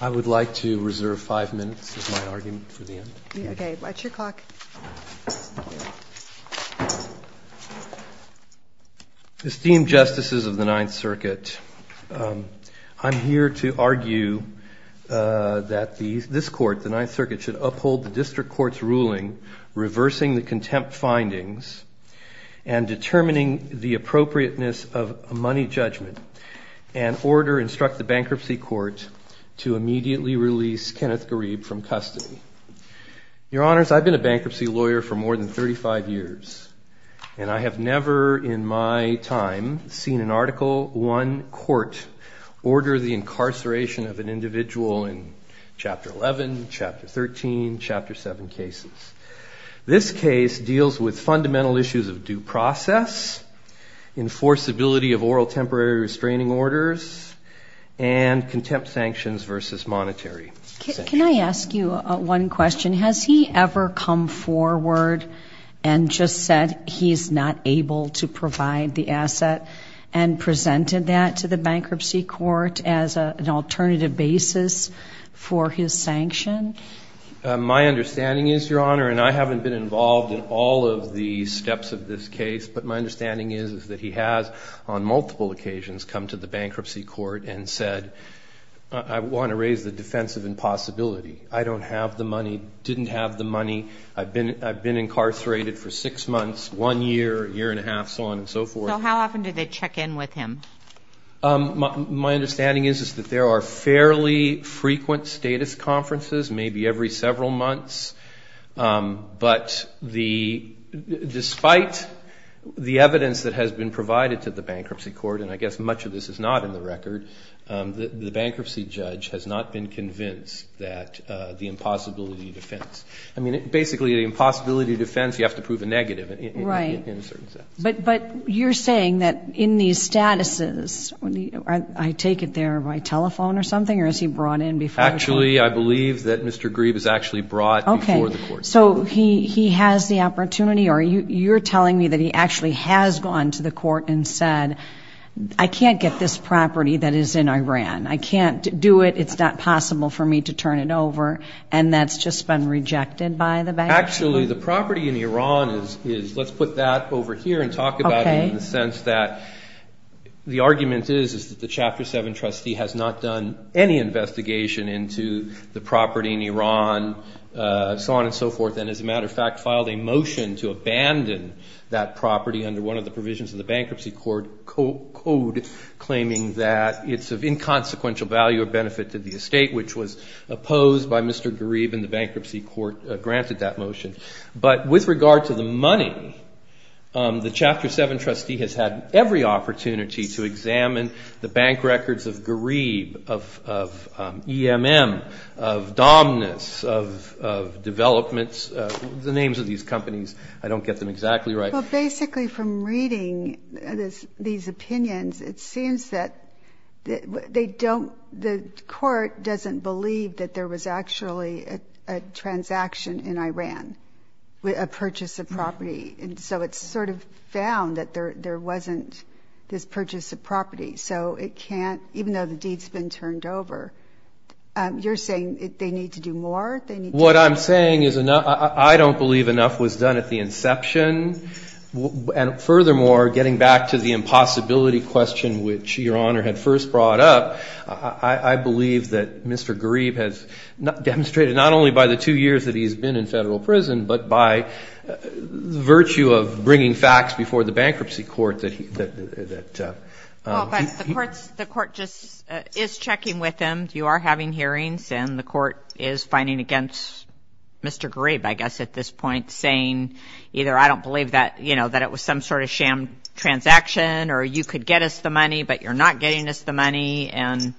I would like to reserve five minutes of my argument for the end. Okay. Watch your clock. Esteemed Justices of the Ninth Circuit, I'm here to argue that this Court, the Ninth Circuit, should uphold the District Court's ruling reversing the contempt findings and determining the appropriateness of a money judgment and order, instruct the Bankruptcy Court to immediately release Kenneth Gharib from custody. Your Honors, I've been a bankruptcy lawyer for more than 35 years, and I have never in my time seen an Article I court order the incarceration of an individual in Chapter 11, Chapter 13, Chapter 7 cases. This case deals with fundamental issues of due process, enforceability of oral temporary restraining orders, and contempt sanctions versus monetary sanctions. Can I ask you one question? Has he ever come forward and just said he's not able to provide the asset and presented that to the Bankruptcy Court as an alternative basis for his sanction? My understanding is, Your Honor, and I haven't been involved in all of the steps of this case, but my understanding is that he has on multiple occasions come to the Bankruptcy Court and said, I want to raise the defense of impossibility. I don't have the money, didn't have the money, I've been incarcerated for six months, one year, a year and a half, so on and so forth. So how often do they check in with him? My understanding is that there are fairly frequent status conferences, maybe every several months, but despite the evidence that has been provided to the Bankruptcy Court, and I guess much of this is not in the record, the bankruptcy judge has not been convinced that the impossibility defense. I mean, basically, the impossibility defense, you have to prove a negative. Right. But you're saying that in these statuses, I take it they're by telephone or something, or is he brought in before the court? Actually, I believe that Mr. Grebe is actually brought before the court. Okay. So he has the opportunity, or you're telling me that he actually has gone to the court and said, I can't get this property that is in Iran, I can't do it, it's not possible for me to turn it over, and that's just been rejected by the bank? Actually, the property in Iran is, let's put that over here and talk about it in the sense that the argument is that the Chapter 7 trustee has not done any investigation into the property in Iran, so on and so forth, and as a matter of fact, filed a motion to abandon that property under one of the provisions of the Bankruptcy Court code, claiming that it's of inconsequential value or benefit to the estate, which was opposed by Mr. Grebe and the Bankruptcy Court granted that motion. But with regard to the money, the Chapter 7 trustee has had every opportunity to examine the bank records of Grebe, of EMM, of Domness, of Developments, the names of these companies. I don't get them exactly right. Well, basically from reading these opinions, it seems that they don't, the court doesn't believe that there was actually a transaction in Iran, a purchase of property, and so it's sort of found that there wasn't this purchase of property, so it can't, even though the deed's been turned over, you're saying they need to do more? What I'm saying is I don't believe enough was done at the inception. And furthermore, getting back to the impossibility question which Your Honor had first brought up, I believe that Mr. Grebe has demonstrated not only by the two years that he's been in Federal prison, but by virtue of bringing facts before the Bankruptcy Court that he, that he. Well, but the court's, the court just is checking with him. And you are having hearings and the court is finding against Mr. Grebe, I guess, at this point, saying either I don't believe that, you know, that it was some sort of sham transaction or you could get us the money but you're not getting us the money and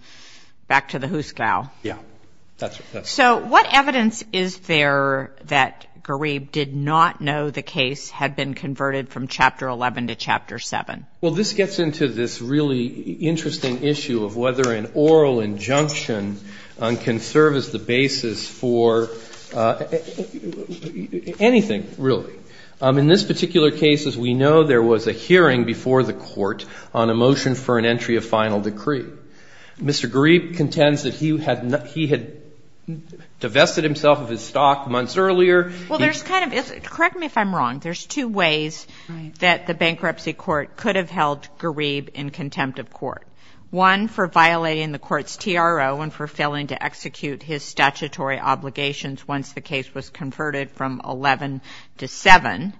back to the who's cow. Yeah. So what evidence is there that Grebe did not know the case had been converted from Chapter 11 to Chapter 7? Well, this gets into this really interesting issue of whether an oral injunction can serve as the basis for anything really. In this particular case, as we know, there was a hearing before the court on a motion for an entry of final decree. Mr. Grebe contends that he had divested himself of his stock months earlier. Well, there's kind of, correct me if I'm wrong, there's two ways that the Bankruptcy Court could have held Grebe in contempt of court. One, for violating the court's TRO and for failing to execute his statutory obligations once the case was converted from 11 to 7.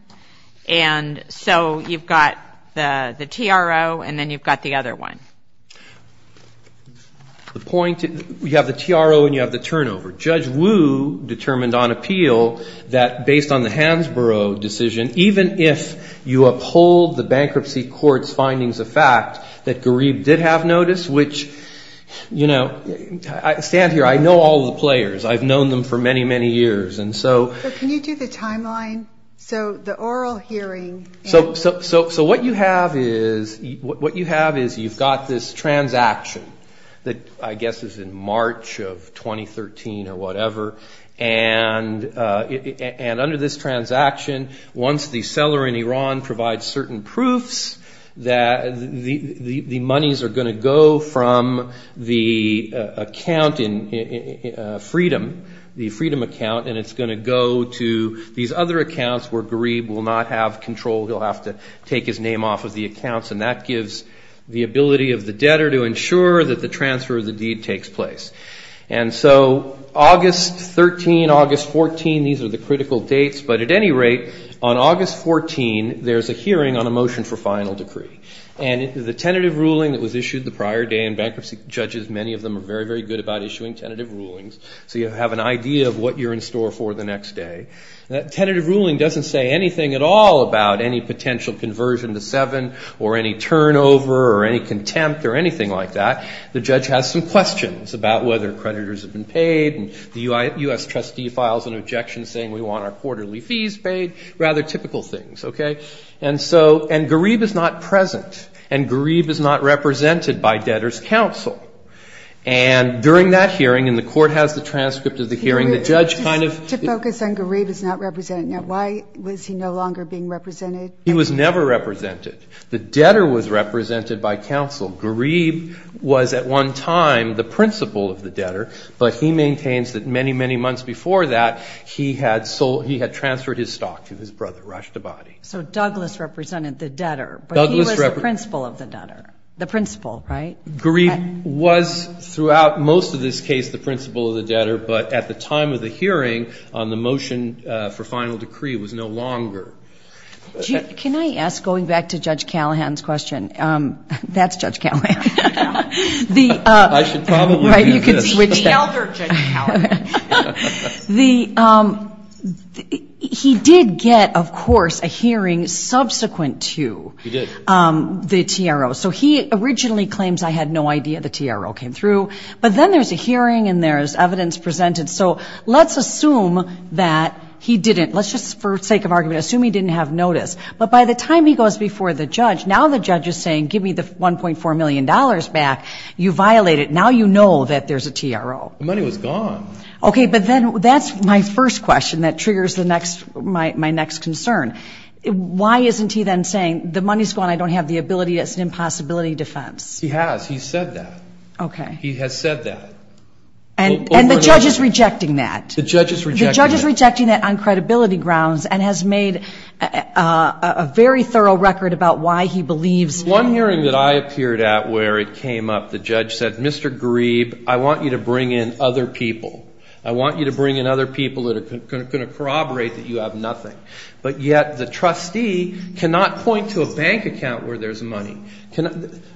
And so you've got the TRO and then you've got the other one. The point, you have the TRO and you have the turnover. Judge Wu determined on appeal that based on the Hansborough decision, even if you uphold the Bankruptcy Court's findings of fact that Grebe did have notice, which, you know, stand here, I know all the players. I've known them for many, many years. So can you do the timeline? So the oral hearing. So what you have is you've got this transaction that I guess is in March of 2013 or whatever. And under this transaction, once the seller in Iran provides certain proofs, the monies are going to go from the account in Freedom, the Freedom account, and it's going to go to these other accounts where Grebe will not have control. He'll have to take his name off of the accounts. And that gives the ability of the debtor to ensure that the transfer of the deed takes place. And so August 13, August 14, these are the critical dates. But at any rate, on August 14, there's a hearing on a motion for final decree. And the tentative ruling that was issued the prior day, and bankruptcy judges, many of them are very, very good about issuing tentative rulings, so you have an idea of what you're in store for the next day. That tentative ruling doesn't say anything at all about any potential conversion to 7 or any turnover or any contempt or anything like that. The judge has some questions about whether creditors have been paid and the U.S. trustee files an objection saying we want our quarterly fees paid, rather typical things. And Grebe is not present, and Grebe is not represented by debtor's counsel. And during that hearing, and the Court has the transcript of the hearing, the judge kind of ---- To focus on Grebe is not represented. Now, why was he no longer being represented? He was never represented. The debtor was represented by counsel. Grebe was at one time the principal of the debtor, but he maintains that many, many months before that, he had transferred his stock to his brother, Rashtabadi. So Douglas represented the debtor, but he was the principal of the debtor, the principal, right? Grebe was throughout most of this case the principal of the debtor, but at the time of the hearing on the motion for final decree was no longer. Can I ask, going back to Judge Callahan's question, that's Judge Callahan. I should probably be in this. Right, you can switch. The elder Judge Callahan. He did get, of course, a hearing subsequent to the TRO. So he originally claims, I had no idea the TRO came through, but then there's a hearing and there's evidence presented. So let's assume that he didn't, let's just, for sake of argument, assume he didn't have notice. But by the time he goes before the judge, now the judge is saying, give me the $1.4 million back. You violated it. Now you know that there's a TRO. The money was gone. Okay, but then that's my first question that triggers my next concern. Why isn't he then saying the money's gone, I don't have the ability, it's an impossibility defense? He has. He said that. Okay. He has said that. And the judge is rejecting that. The judge is rejecting that. The judge is rejecting that on credibility grounds and has made a very thorough record about why he believes. One hearing that I appeared at where it came up, the judge said, Mr. Grebe, I want you to bring in other people. I want you to bring in other people that are going to corroborate that you have nothing. But yet the trustee cannot point to a bank account where there's money.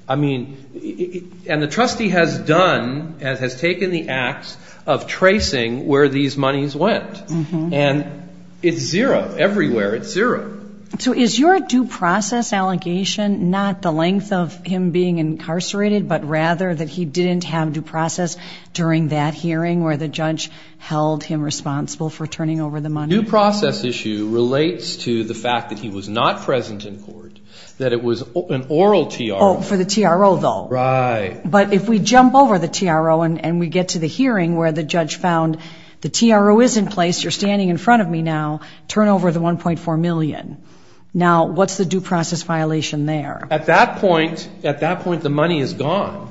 I mean, and the trustee has done, has taken the acts of tracing where these monies went. And it's zero. Everywhere it's zero. So is your due process allegation not the length of him being incarcerated, but rather that he didn't have due process during that hearing where the judge held him responsible for turning over the money? The due process issue relates to the fact that he was not present in court, that it was an oral TRO. Oh, for the TRO, though. Right. But if we jump over the TRO and we get to the hearing where the judge found the TRO is in place, you're standing in front of me now, turn over the $1.4 million. Now, what's the due process violation there? At that point, the money is gone,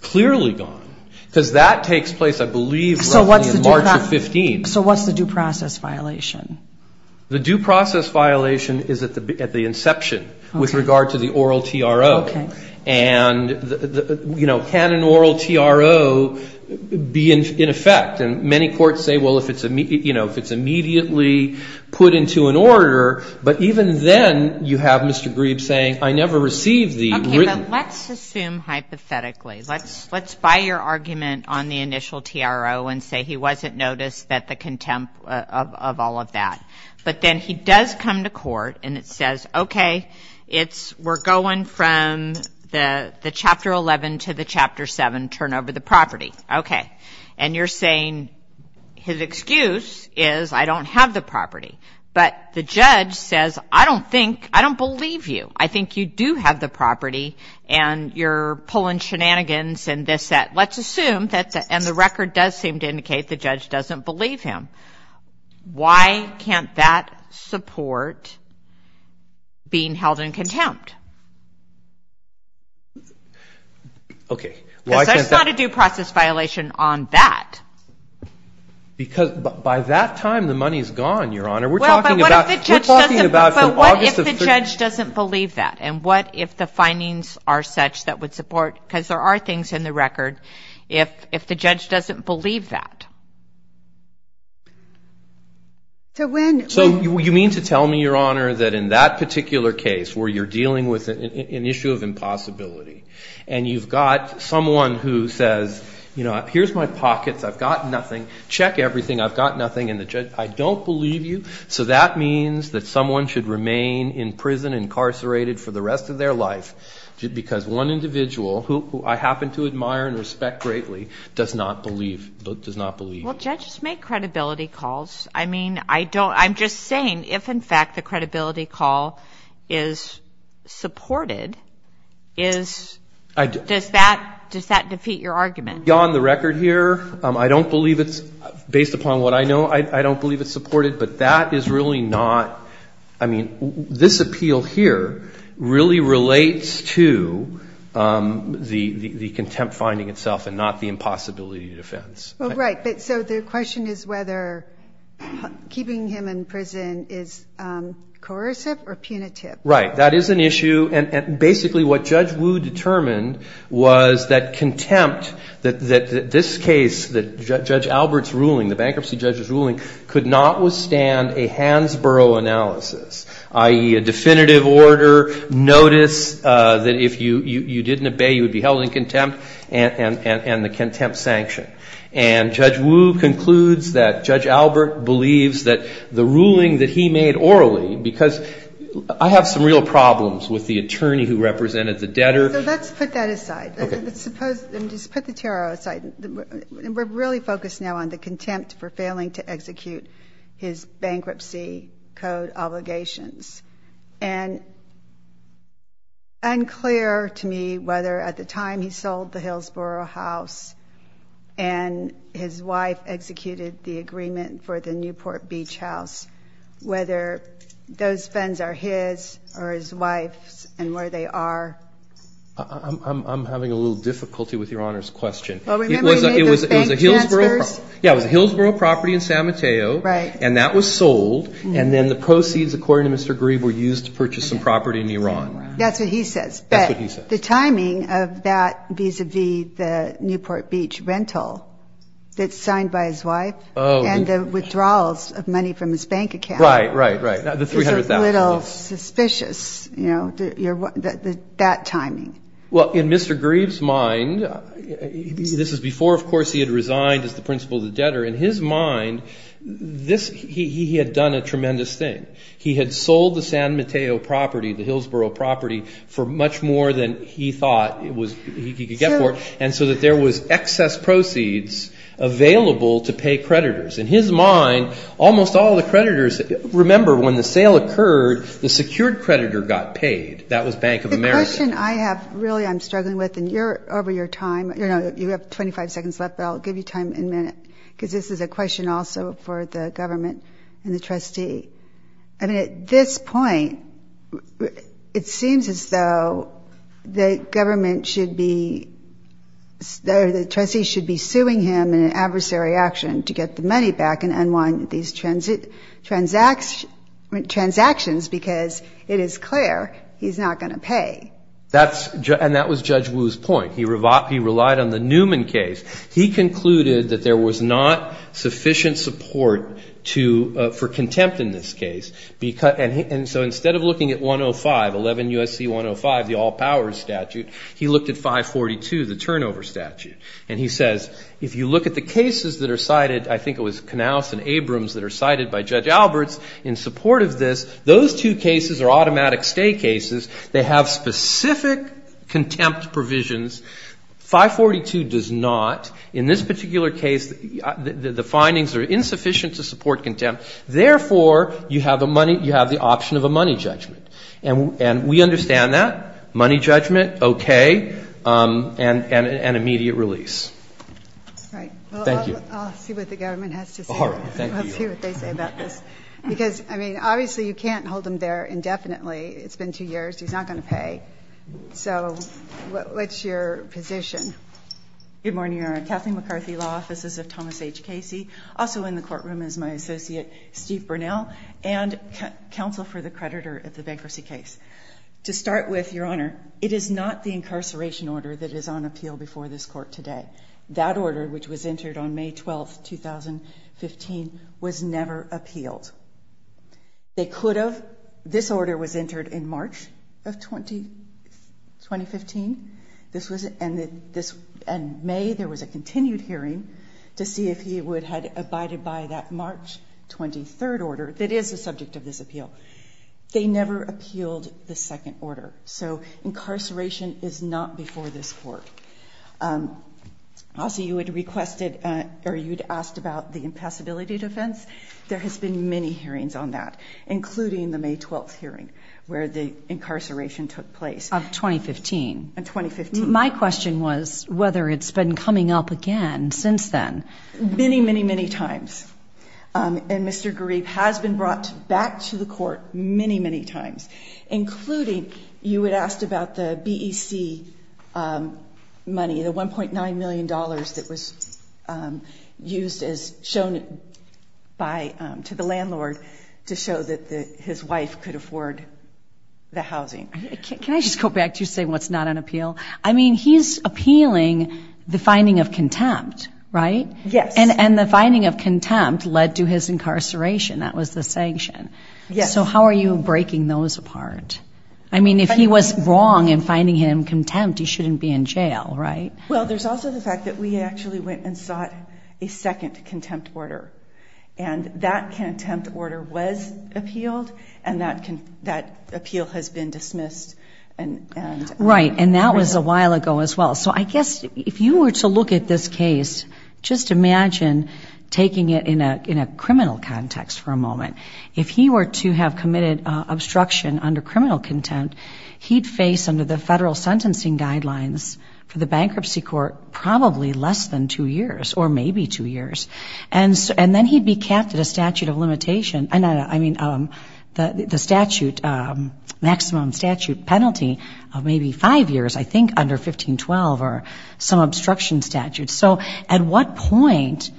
clearly gone, because that takes place, I believe, roughly in March of 15. So what's the due process violation? The due process violation is at the inception with regard to the oral TRO. Okay. And, you know, can an oral TRO be in effect? And many courts say, well, if it's, you know, if it's immediately put into an order, but even then you have Mr. Grebe saying, I never received the written. Okay, but let's assume hypothetically. Let's buy your argument on the initial TRO and say he wasn't noticed of all of that. But then he does come to court and it says, okay, we're going from the Chapter 11 to the Chapter 7, turn over the property. Okay. And you're saying his excuse is, I don't have the property. But the judge says, I don't think, I don't believe you. I think you do have the property and you're pulling shenanigans and this, that. Let's assume, and the record does seem to indicate the judge doesn't believe him. Why can't that support being held in contempt? Okay. Because there's not a due process violation on that. Because by that time the money is gone, Your Honor. Well, but what if the judge doesn't believe that? And what if the findings are such that would support, because there are things in the record, if the judge doesn't believe that? So you mean to tell me, Your Honor, that in that particular case where you're dealing with an issue of impossibility and you've got someone who says, you know, here's my pockets, I've got nothing, check everything, I've got nothing, and the judge, I don't believe you. So that means that someone should remain in prison, incarcerated, for the rest of their life. Because one individual, who I happen to admire and respect greatly, does not believe. Well, judges make credibility calls. I mean, I'm just saying, if in fact the credibility call is supported, does that defeat your argument? Beyond the record here, I don't believe it's, based upon what I know, I don't believe it's supported. But that is really not, I mean, this appeal here really relates to the contempt finding itself and not the impossibility defense. Well, right. So the question is whether keeping him in prison is coercive or punitive. Right. That is an issue. And basically what Judge Wu determined was that contempt, that this case, Judge Albert's ruling, the bankruptcy judge's ruling, could not withstand a Hansborough analysis, i.e., a definitive order, notice that if you didn't obey, you would be held in contempt, and the contempt sanction. And Judge Wu concludes that Judge Albert believes that the ruling that he made orally, because I have some real problems with the attorney who represented the debtor. So let's put that aside. Okay. Just put the TRO aside. We're really focused now on the contempt for failing to execute his bankruptcy code obligations. And unclear to me whether at the time he sold the Hillsborough house and his wife executed the agreement for the Newport Beach house, whether those funds are his or his wife's and where they are. I'm having a little difficulty with Your Honor's question. Well, remember he made those bank transfers? Yeah, it was a Hillsborough property in San Mateo. Right. And that was sold. And then the proceeds, according to Mr. Greave, were used to purchase some property in Iran. That's what he says. That's what he says. The timing of that vis-a-vis the Newport Beach rental that's signed by his wife and the withdrawals of money from his bank account. Right, right, right. The $300,000. It's a little suspicious, you know, that timing. Well, in Mr. Greave's mind, this is before, of course, he had resigned as the principal of the debtor. In his mind, he had done a tremendous thing. He had sold the San Mateo property, the Hillsborough property, for much more than he thought he could get for it and so that there was excess proceeds available to pay creditors. In his mind, almost all the creditors, remember when the sale occurred, the secured creditor got paid. That was Bank of America. The question I have really I'm struggling with, and you're over your time. You have 25 seconds left, but I'll give you time in a minute because this is a question also for the government and the trustee. I mean, at this point, it seems as though the government should be, the trustee should be suing him in an adversary action to get the money back and unwind these transactions because it is clear he's not going to pay. And that was Judge Wu's point. He relied on the Newman case. He concluded that there was not sufficient support for contempt in this case. And so instead of looking at 105, 11 U.S.C. 105, the all powers statute, he looked at 542, the turnover statute. And he says, if you look at the cases that are cited, I think it was Knauss and Abrams that are cited by Judge Alberts in support of this, those two cases are automatic stay cases. They have specific contempt provisions. 542 does not. In this particular case, the findings are insufficient to support contempt. Therefore, you have the option of a money judgment. And we understand that. Money judgment, okay, and immediate release. Thank you. I'll see what the government has to say. All right. Thank you. I'll see what they say about this. Because, I mean, obviously you can't hold him there indefinitely. It's been two years. He's not going to pay. So what's your position? Good morning, Your Honor. Kathleen McCarthy, Law Offices of Thomas H. Casey. Also in the courtroom is my associate, Steve Burnell, and counsel for the creditor of the bankruptcy case. To start with, Your Honor, it is not the incarceration order that is on appeal before this court today. That order, which was entered on May 12, 2015, was never appealed. They could have. This order was entered in March of 2015. This was in May. There was a continued hearing to see if he would have abided by that March 23rd order that is the subject of this appeal. They never appealed the second order. So incarceration is not before this court. Also, you had requested or you had asked about the impassability defense. There has been many hearings on that, including the May 12th hearing where the incarceration took place. Of 2015. Of 2015. My question was whether it's been coming up again since then. Many, many, many times. And Mr. Garib has been brought back to the court many, many times, including you had asked about the BEC money, the $1.9 million that was used as shown to the landlord to show that his wife could afford the housing. Can I just go back to you saying what's not on appeal? I mean, he's appealing the finding of contempt, right? Yes. And the finding of contempt led to his incarceration. That was the sanction. Yes. So how are you breaking those apart? I mean, if he was wrong in finding him contempt, he shouldn't be in jail, right? Well, there's also the fact that we actually went and sought a second contempt order. And that contempt order was appealed, and that appeal has been dismissed. Right. And that was a while ago as well. So I guess if you were to look at this case, just imagine taking it in a criminal context for a moment. If he were to have committed obstruction under criminal contempt, he'd face under the federal sentencing guidelines for the bankruptcy court probably less than two years or maybe two years. And then he'd be capped at a statute of limitation. I mean, the statute, maximum statute penalty of maybe five years, I think, under 1512 or some obstruction statute. So at what point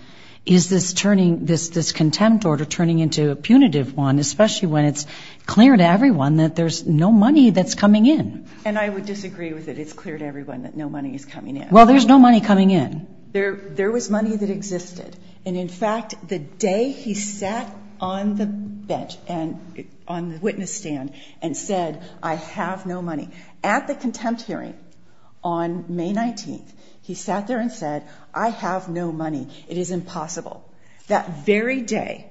is this contempt order turning into a punitive one, especially when it's clear to everyone that there's no money that's coming in? And I would disagree with it. It's clear to everyone that no money is coming in. Well, there's no money coming in. There was money that existed. And, in fact, the day he sat on the bench, on the witness stand, and said, I have no money, at the contempt hearing on May 19th, he sat there and said, I have no money. It is impossible. That very day,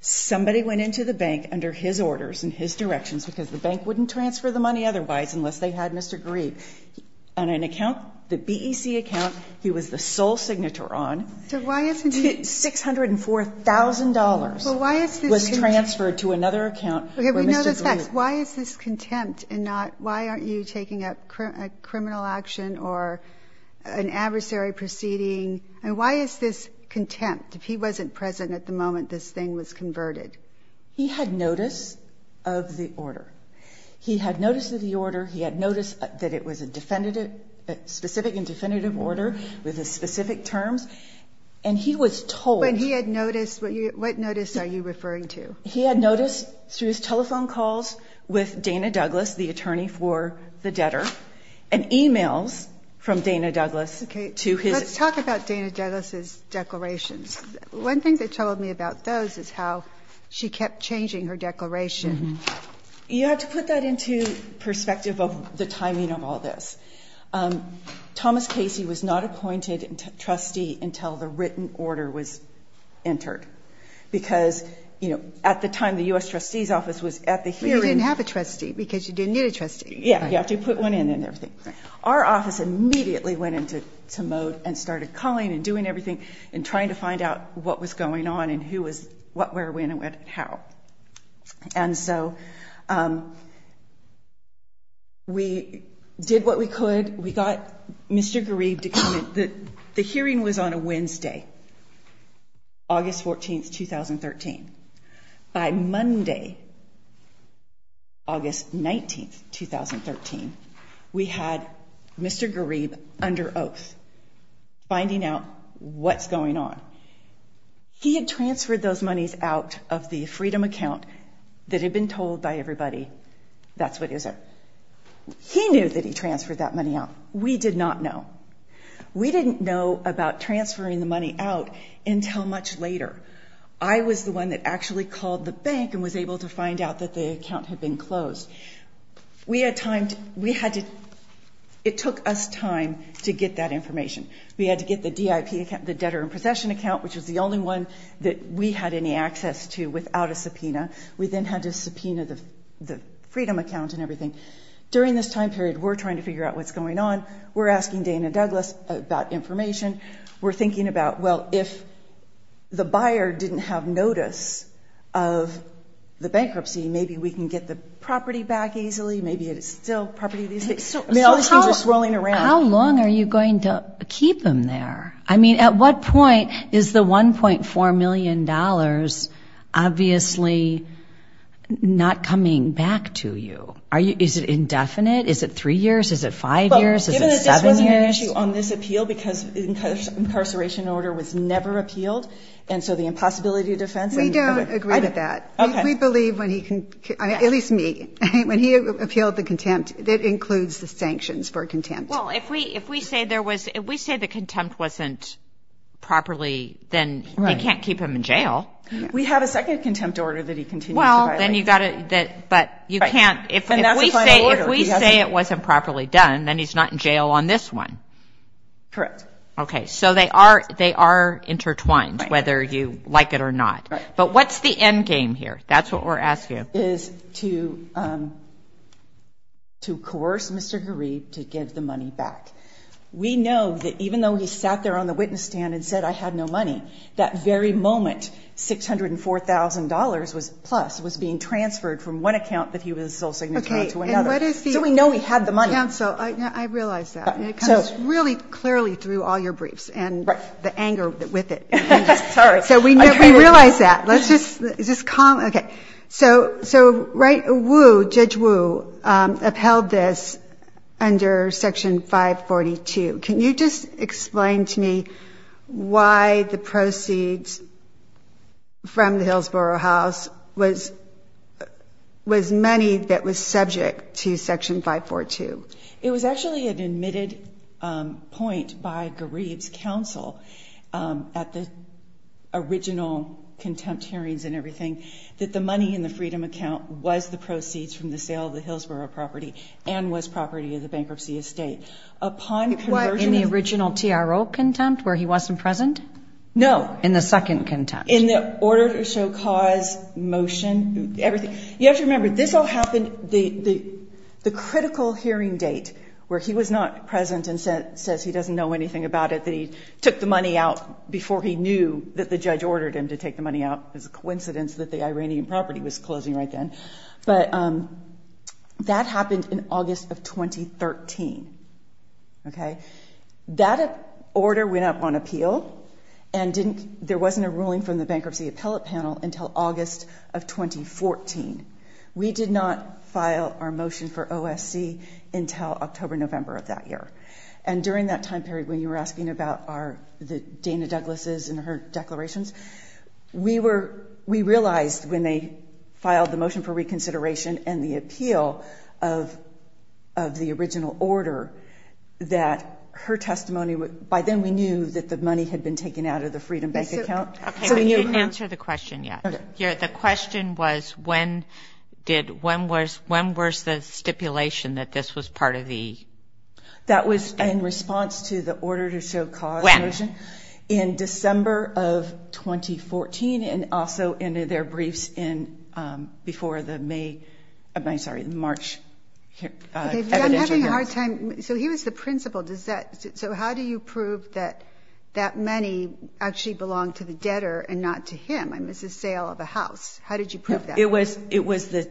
somebody went into the bank under his orders and his directions, because the bank wouldn't transfer the money otherwise unless they had Mr. Grebe. On an account, the BEC account, he was the sole signator on, $604,000 was transferred to another account where Mr. Grebe. Why is this contempt and not why aren't you taking up a criminal action or an adversary proceeding? And why is this contempt? If he wasn't present at the moment, this thing was converted. He had notice of the order. He had notice of the order. He had notice that it was a definitive, specific and definitive order with specific terms. And he was told. When he had notice, what notice are you referring to? He had notice through his telephone calls with Dana Douglas, the attorney for the debtor, and e-mails from Dana Douglas to his. Let's talk about Dana Douglas's declarations. One thing they told me about those is how she kept changing her declaration. You have to put that into perspective of the timing of all this. Thomas Casey was not appointed trustee until the written order was entered, because, you know, at the time the U.S. trustee's office was at the hearing. But you didn't have a trustee because you didn't need a trustee. Yeah, you have to put one in and everything. Our office immediately went into mode and started calling and doing everything and trying to find out what was going on and who was what, where, when, and how. And so we did what we could. We got Mr. Grebe to come in. The hearing was on a Wednesday, August 14, 2013. By Monday, August 19, 2013, we had Mr. Grebe under oath finding out what's going on. He had transferred those monies out of the Freedom account that had been told by everybody, that's what is it. He knew that he transferred that money out. We did not know. We didn't know about transferring the money out until much later. I was the one that actually called the bank and was able to find out that the account had been closed. It took us time to get that information. We had to get the debtor in possession account, which was the only one that we had any access to without a subpoena. We then had to subpoena the Freedom account and everything. During this time period, we're trying to figure out what's going on. We're asking Dana Douglas about information. We're thinking about, well, if the buyer didn't have notice of the bankruptcy, maybe we can get the property back easily, maybe it's still property. All these things are swirling around. How long are you going to keep them there? I mean, at what point is the $1.4 million obviously not coming back to you? Is it indefinite? Is it three years? Is it five years? Is it seven years? Given that this wasn't an issue on this appeal because incarceration order was never appealed, and so the impossibility of defense? We don't agree with that. Okay. We believe when he can, at least me, when he appealed the contempt, that includes the sanctions for contempt. Well, if we say there was – if we say the contempt wasn't properly, then you can't keep him in jail. We have a second contempt order that he continues to violate. Well, then you've got to – but you can't – if we say it wasn't properly done, then he's not in jail on this one. Correct. Okay. So they are intertwined, whether you like it or not. But what's the end game here? That's what we're asking. The end game is to coerce Mr. Garib to give the money back. We know that even though he sat there on the witness stand and said, I had no money, that very moment $604,000-plus was being transferred from one account that he was sole signatory to another. So we know he had the money. Counsel, I realize that. And it comes really clearly through all your briefs and the anger with it. Sorry. So we realize that. Okay. So Judge Wu upheld this under Section 542. Can you just explain to me why the proceeds from the Hillsborough House was money that was subject to Section 542? It was actually an admitted point by Garib's counsel at the original contempt hearings and everything that the money in the Freedom account was the proceeds from the sale of the Hillsborough property and was property of the bankruptcy estate. It was in the original TRO contempt where he wasn't present? No. In the second contempt. In the order to show cause motion, everything. You have to remember, this all happened the critical hearing date where he was not present and says he doesn't know anything about it, that he took the money out before he knew that the judge ordered him to take the money out. It was a coincidence that the Iranian property was closing right then. But that happened in August of 2013. That order went up on appeal, and there wasn't a ruling from the We did not file our motion for OSC until October, November of that year. And during that time period when you were asking about the Dana Douglas' and her declarations, we realized when they filed the motion for reconsideration and the appeal of the original order that her testimony, by then we knew that the money had been taken out of the Freedom bank account. Okay, but you didn't answer the question yet. The question was when was the stipulation that this was part of the? That was in response to the order to show cause motion. When? In December of 2014, and also in their briefs before the May, I'm sorry, the March evidential hearing. I'm having a hard time. So he was the principal. So how do you prove that that money actually belonged to the debtor and not to him? It's a sale of a house. How did you prove that? It was the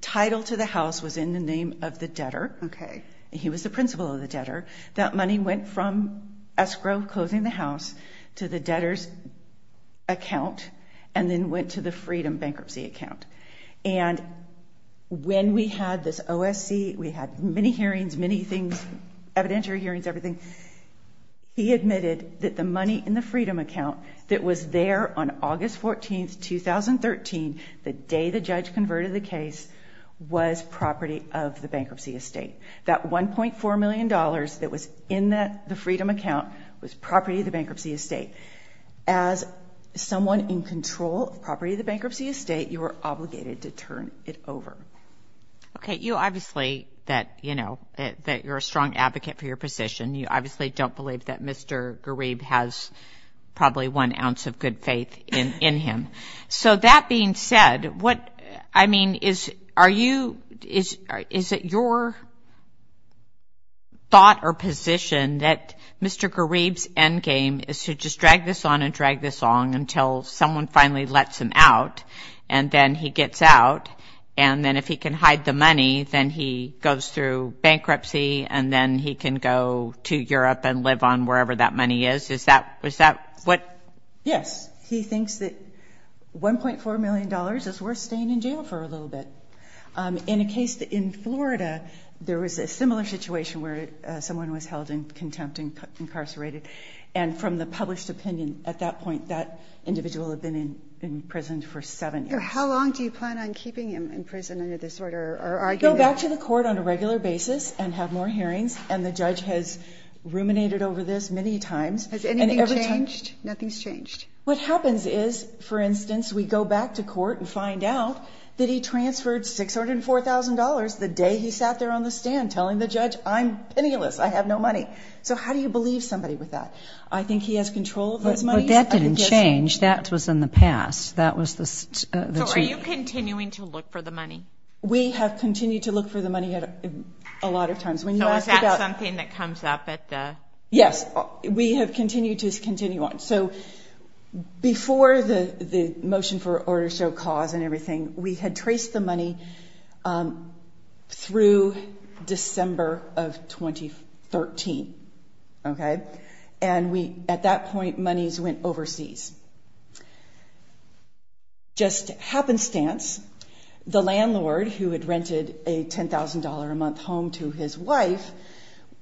title to the house was in the name of the debtor. Okay. He was the principal of the debtor. That money went from escrow, closing the house, to the debtor's account and then went to the Freedom bankruptcy account. And when we had this OSC, we had many hearings, many things, evidentiary hearings, everything. He admitted that the money in the Freedom account that was there on August 14, 2013, the day the judge converted the case, was property of the bankruptcy estate. That $1.4 million that was in the Freedom account was property of the bankruptcy estate. As someone in control of property of the bankruptcy estate, you were obligated to turn it over. Okay. But you obviously that, you know, that you're a strong advocate for your position. You obviously don't believe that Mr. Garib has probably one ounce of good faith in him. So that being said, what, I mean, is, are you, is it your thought or position that Mr. Garib's endgame is to just drag this on and drag this on until someone finally lets him out and then he gets out, and then if he can hide the money, then he goes through bankruptcy and then he can go to Europe and live on wherever that money is? Is that, is that what? Yes. He thinks that $1.4 million is worth staying in jail for a little bit. In a case in Florida, there was a similar situation where someone was held in contempt and incarcerated. And from the published opinion at that point, that individual had been in prison for seven years. How long do you plan on keeping him in prison under this order? Go back to the court on a regular basis and have more hearings, and the judge has ruminated over this many times. Has anything changed? Nothing's changed. What happens is, for instance, we go back to court and find out that he transferred $604,000 the day he sat there on the stand telling the judge, I'm penniless, I have no money. So how do you believe somebody with that? I think he has control of his money. But that didn't change. That was in the past. That was the treaty. So are you continuing to look for the money? We have continued to look for the money a lot of times. So is that something that comes up at the? Yes. We have continued to continue on. So before the motion for order to show cause and everything, we had traced the money through December of 2013, okay? And at that point, monies went overseas. Just happenstance, the landlord, who had rented a $10,000-a-month home to his wife,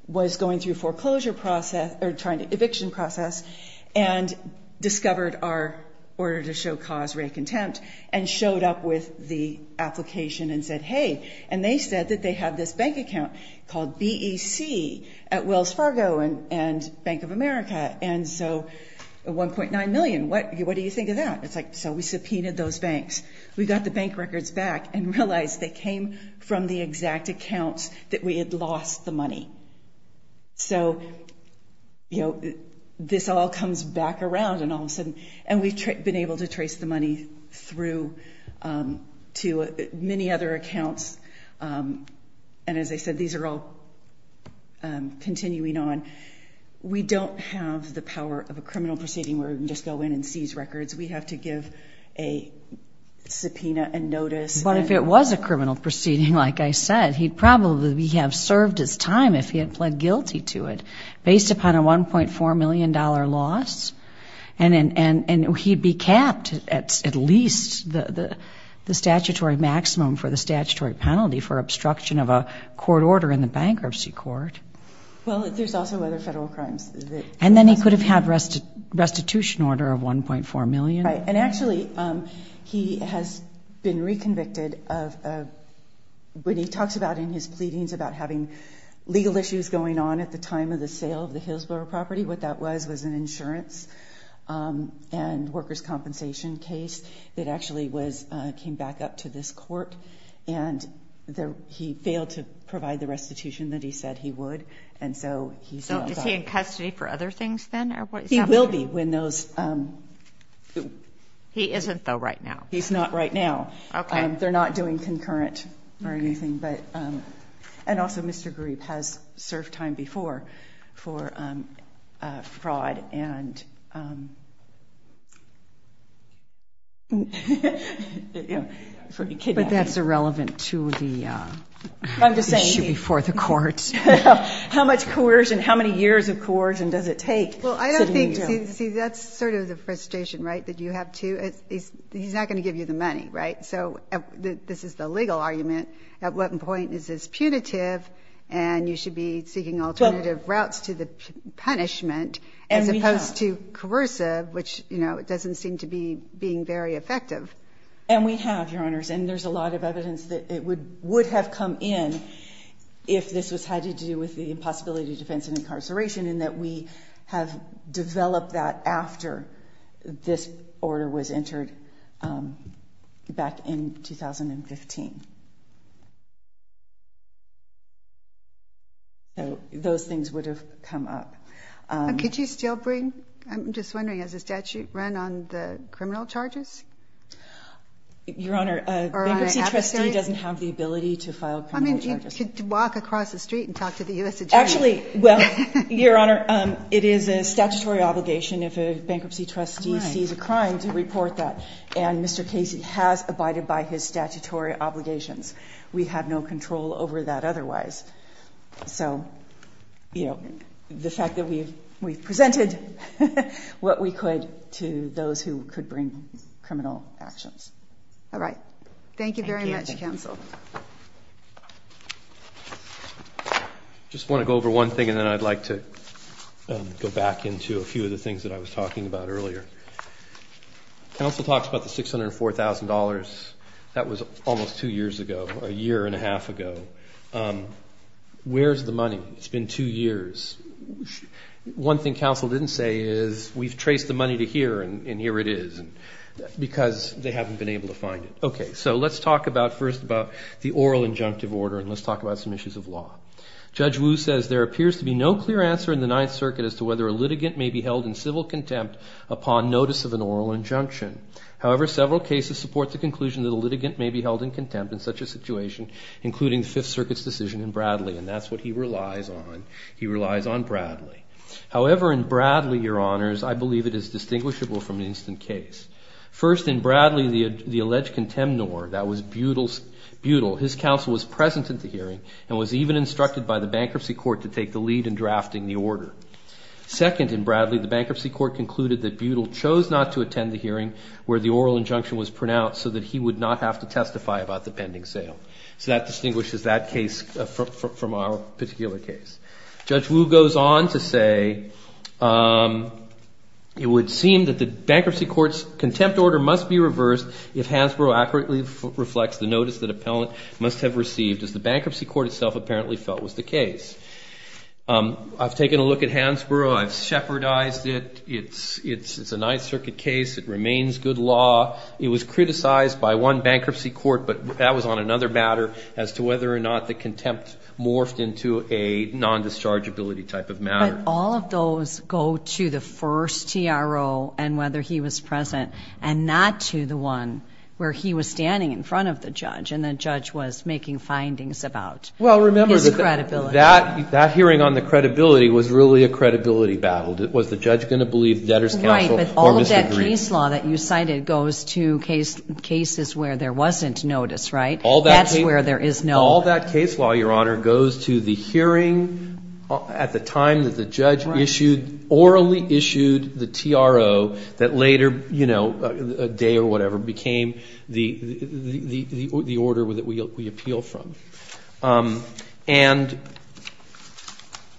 was going through a foreclosure process or trying to eviction process and discovered our order to show cause rate contempt and showed up with the application and said, hey. And they said that they have this bank account called BEC at Wells Fargo and Bank of America. And so $1.9 million, what do you think of that? It's like, so we subpoenaed those banks. We got the bank records back and realized they came from the exact accounts that we had lost the money. So, you know, this all comes back around and all of a sudden. And we've been able to trace the money through to many other accounts. And as I said, these are all continuing on. We don't have the power of a criminal proceeding where we can just go in and seize records. We have to give a subpoena and notice. But if it was a criminal proceeding, like I said, he'd probably have served his time if he had pled guilty to it based upon a $1.4 million loss. And he'd be capped at least the statutory maximum for the statutory penalty for obstruction of a court order in the bankruptcy court. Well, there's also other federal crimes. And then he could have had restitution order of $1.4 million. Right. And actually, he has been reconvicted of what he talks about in his pleadings about having legal issues going on at the time of the sale of the Hillsborough property. What that was was an insurance and workers' compensation case. It actually came back up to this court. And he failed to provide the restitution that he said he would. So is he in custody for other things then? He will be when those. He isn't, though, right now. He's not right now. Okay. They're not doing concurrent or anything. And also, Mr. Grebe has served time before for fraud and for kidnapping. But that's irrelevant to the issue before the courts. How much coercion, how many years of coercion does it take? Well, I don't think. See, that's sort of the frustration, right, that you have to. He's not going to give you the money, right? So this is the legal argument. At what point is this punitive and you should be seeking alternative routes to the punishment as opposed to coercive, which, you know, it doesn't seem to be being very effective. And we have, Your Honors. And there's a lot of evidence that it would have come in if this was had to do with the impossibility of defense and incarceration and that we have developed that after this order was entered back in 2015. So those things would have come up. Could you still bring, I'm just wondering, does the statute run on the criminal charges? Your Honor, a bankruptcy trustee doesn't have the ability to file criminal charges. I mean, you could walk across the street and talk to the U.S. Attorney. Actually, well, Your Honor, it is a statutory obligation if a bankruptcy trustee sees a crime to report that. And Mr. Casey has abided by his statutory obligations. We have no control over that otherwise. So, you know, the fact that we've presented what we could to those who could bring criminal actions. All right. Thank you very much, counsel. I just want to go over one thing and then I'd like to go back into a few of the things that I was talking about earlier. Counsel talks about the $604,000. That was almost two years ago, a year and a half ago. Where's the money? It's been two years. One thing counsel didn't say is we've traced the money to here and here it is because they haven't been able to find it. Okay. So let's talk about first about the oral injunctive order and let's talk about some issues of law. Judge Wu says there appears to be no clear answer in the Ninth Circuit as to whether a litigant may be held in civil contempt upon notice of an oral injunction. However, several cases support the conclusion that a litigant may be held in contempt in such a situation, including the Fifth Circuit's decision in Bradley. And that's what he relies on. He relies on Bradley. However, in Bradley, Your Honors, I believe it is distinguishable from an instant case. First, in Bradley, the alleged contemnor, that was Butel, his counsel was present at the hearing and was even instructed by the bankruptcy court to take the lead in drafting the order. Second, in Bradley, the bankruptcy court concluded that Butel chose not to attend the hearing where the oral injunction was pronounced so that he would not have to testify about the pending sale. So that distinguishes that case from our particular case. Judge Wu goes on to say it would seem that the bankruptcy court's contempt order must be reversed if Hansborough accurately reflects the notice that appellant must have received as the bankruptcy court itself apparently felt was the case. I've taken a look at Hansborough. I've shepherdized it. It's a Ninth Circuit case. It remains good law. It was criticized by one bankruptcy court, but that was on another matter as to whether or not the contempt morphed into a non-dischargeability type of matter. But all of those go to the first TRO and whether he was present and not to the one where he was standing in front of the judge and the judge was making findings about his credibility. Well, remember, that hearing on the credibility was really a credibility battle. Was the judge going to believe the debtor's counsel or disagree? Right, but all of that case law that you cited goes to cases where there wasn't notice, right? That's where there is no notice. All that case law, Your Honor, goes to the hearing at the time that the judge issued orally issued the TRO that later, you know, a day or whatever became the order that we appeal from. And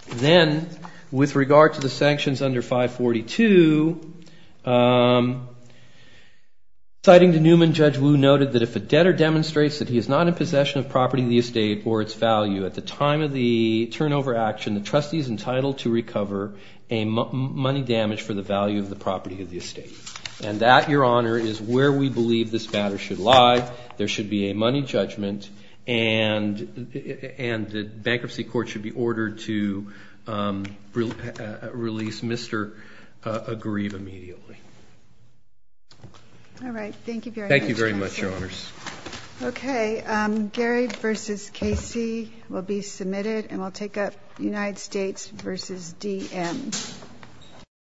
then with regard to the sanctions under 542, citing to Newman, Judge Wu noted that if a debtor demonstrates that he is not in possession of property of the estate or its value at the time of the turnover action, the trustee is entitled to recover a money damage for the value of the property of the estate. And that, Your Honor, is where we believe this matter should lie. There should be a money judgment and the bankruptcy court should be ordered to release Mr. Agriva immediately. All right, thank you very much. Thank you very much, Your Honors. Okay, Gary v. Casey will be submitted, and we'll take up United States v. DM.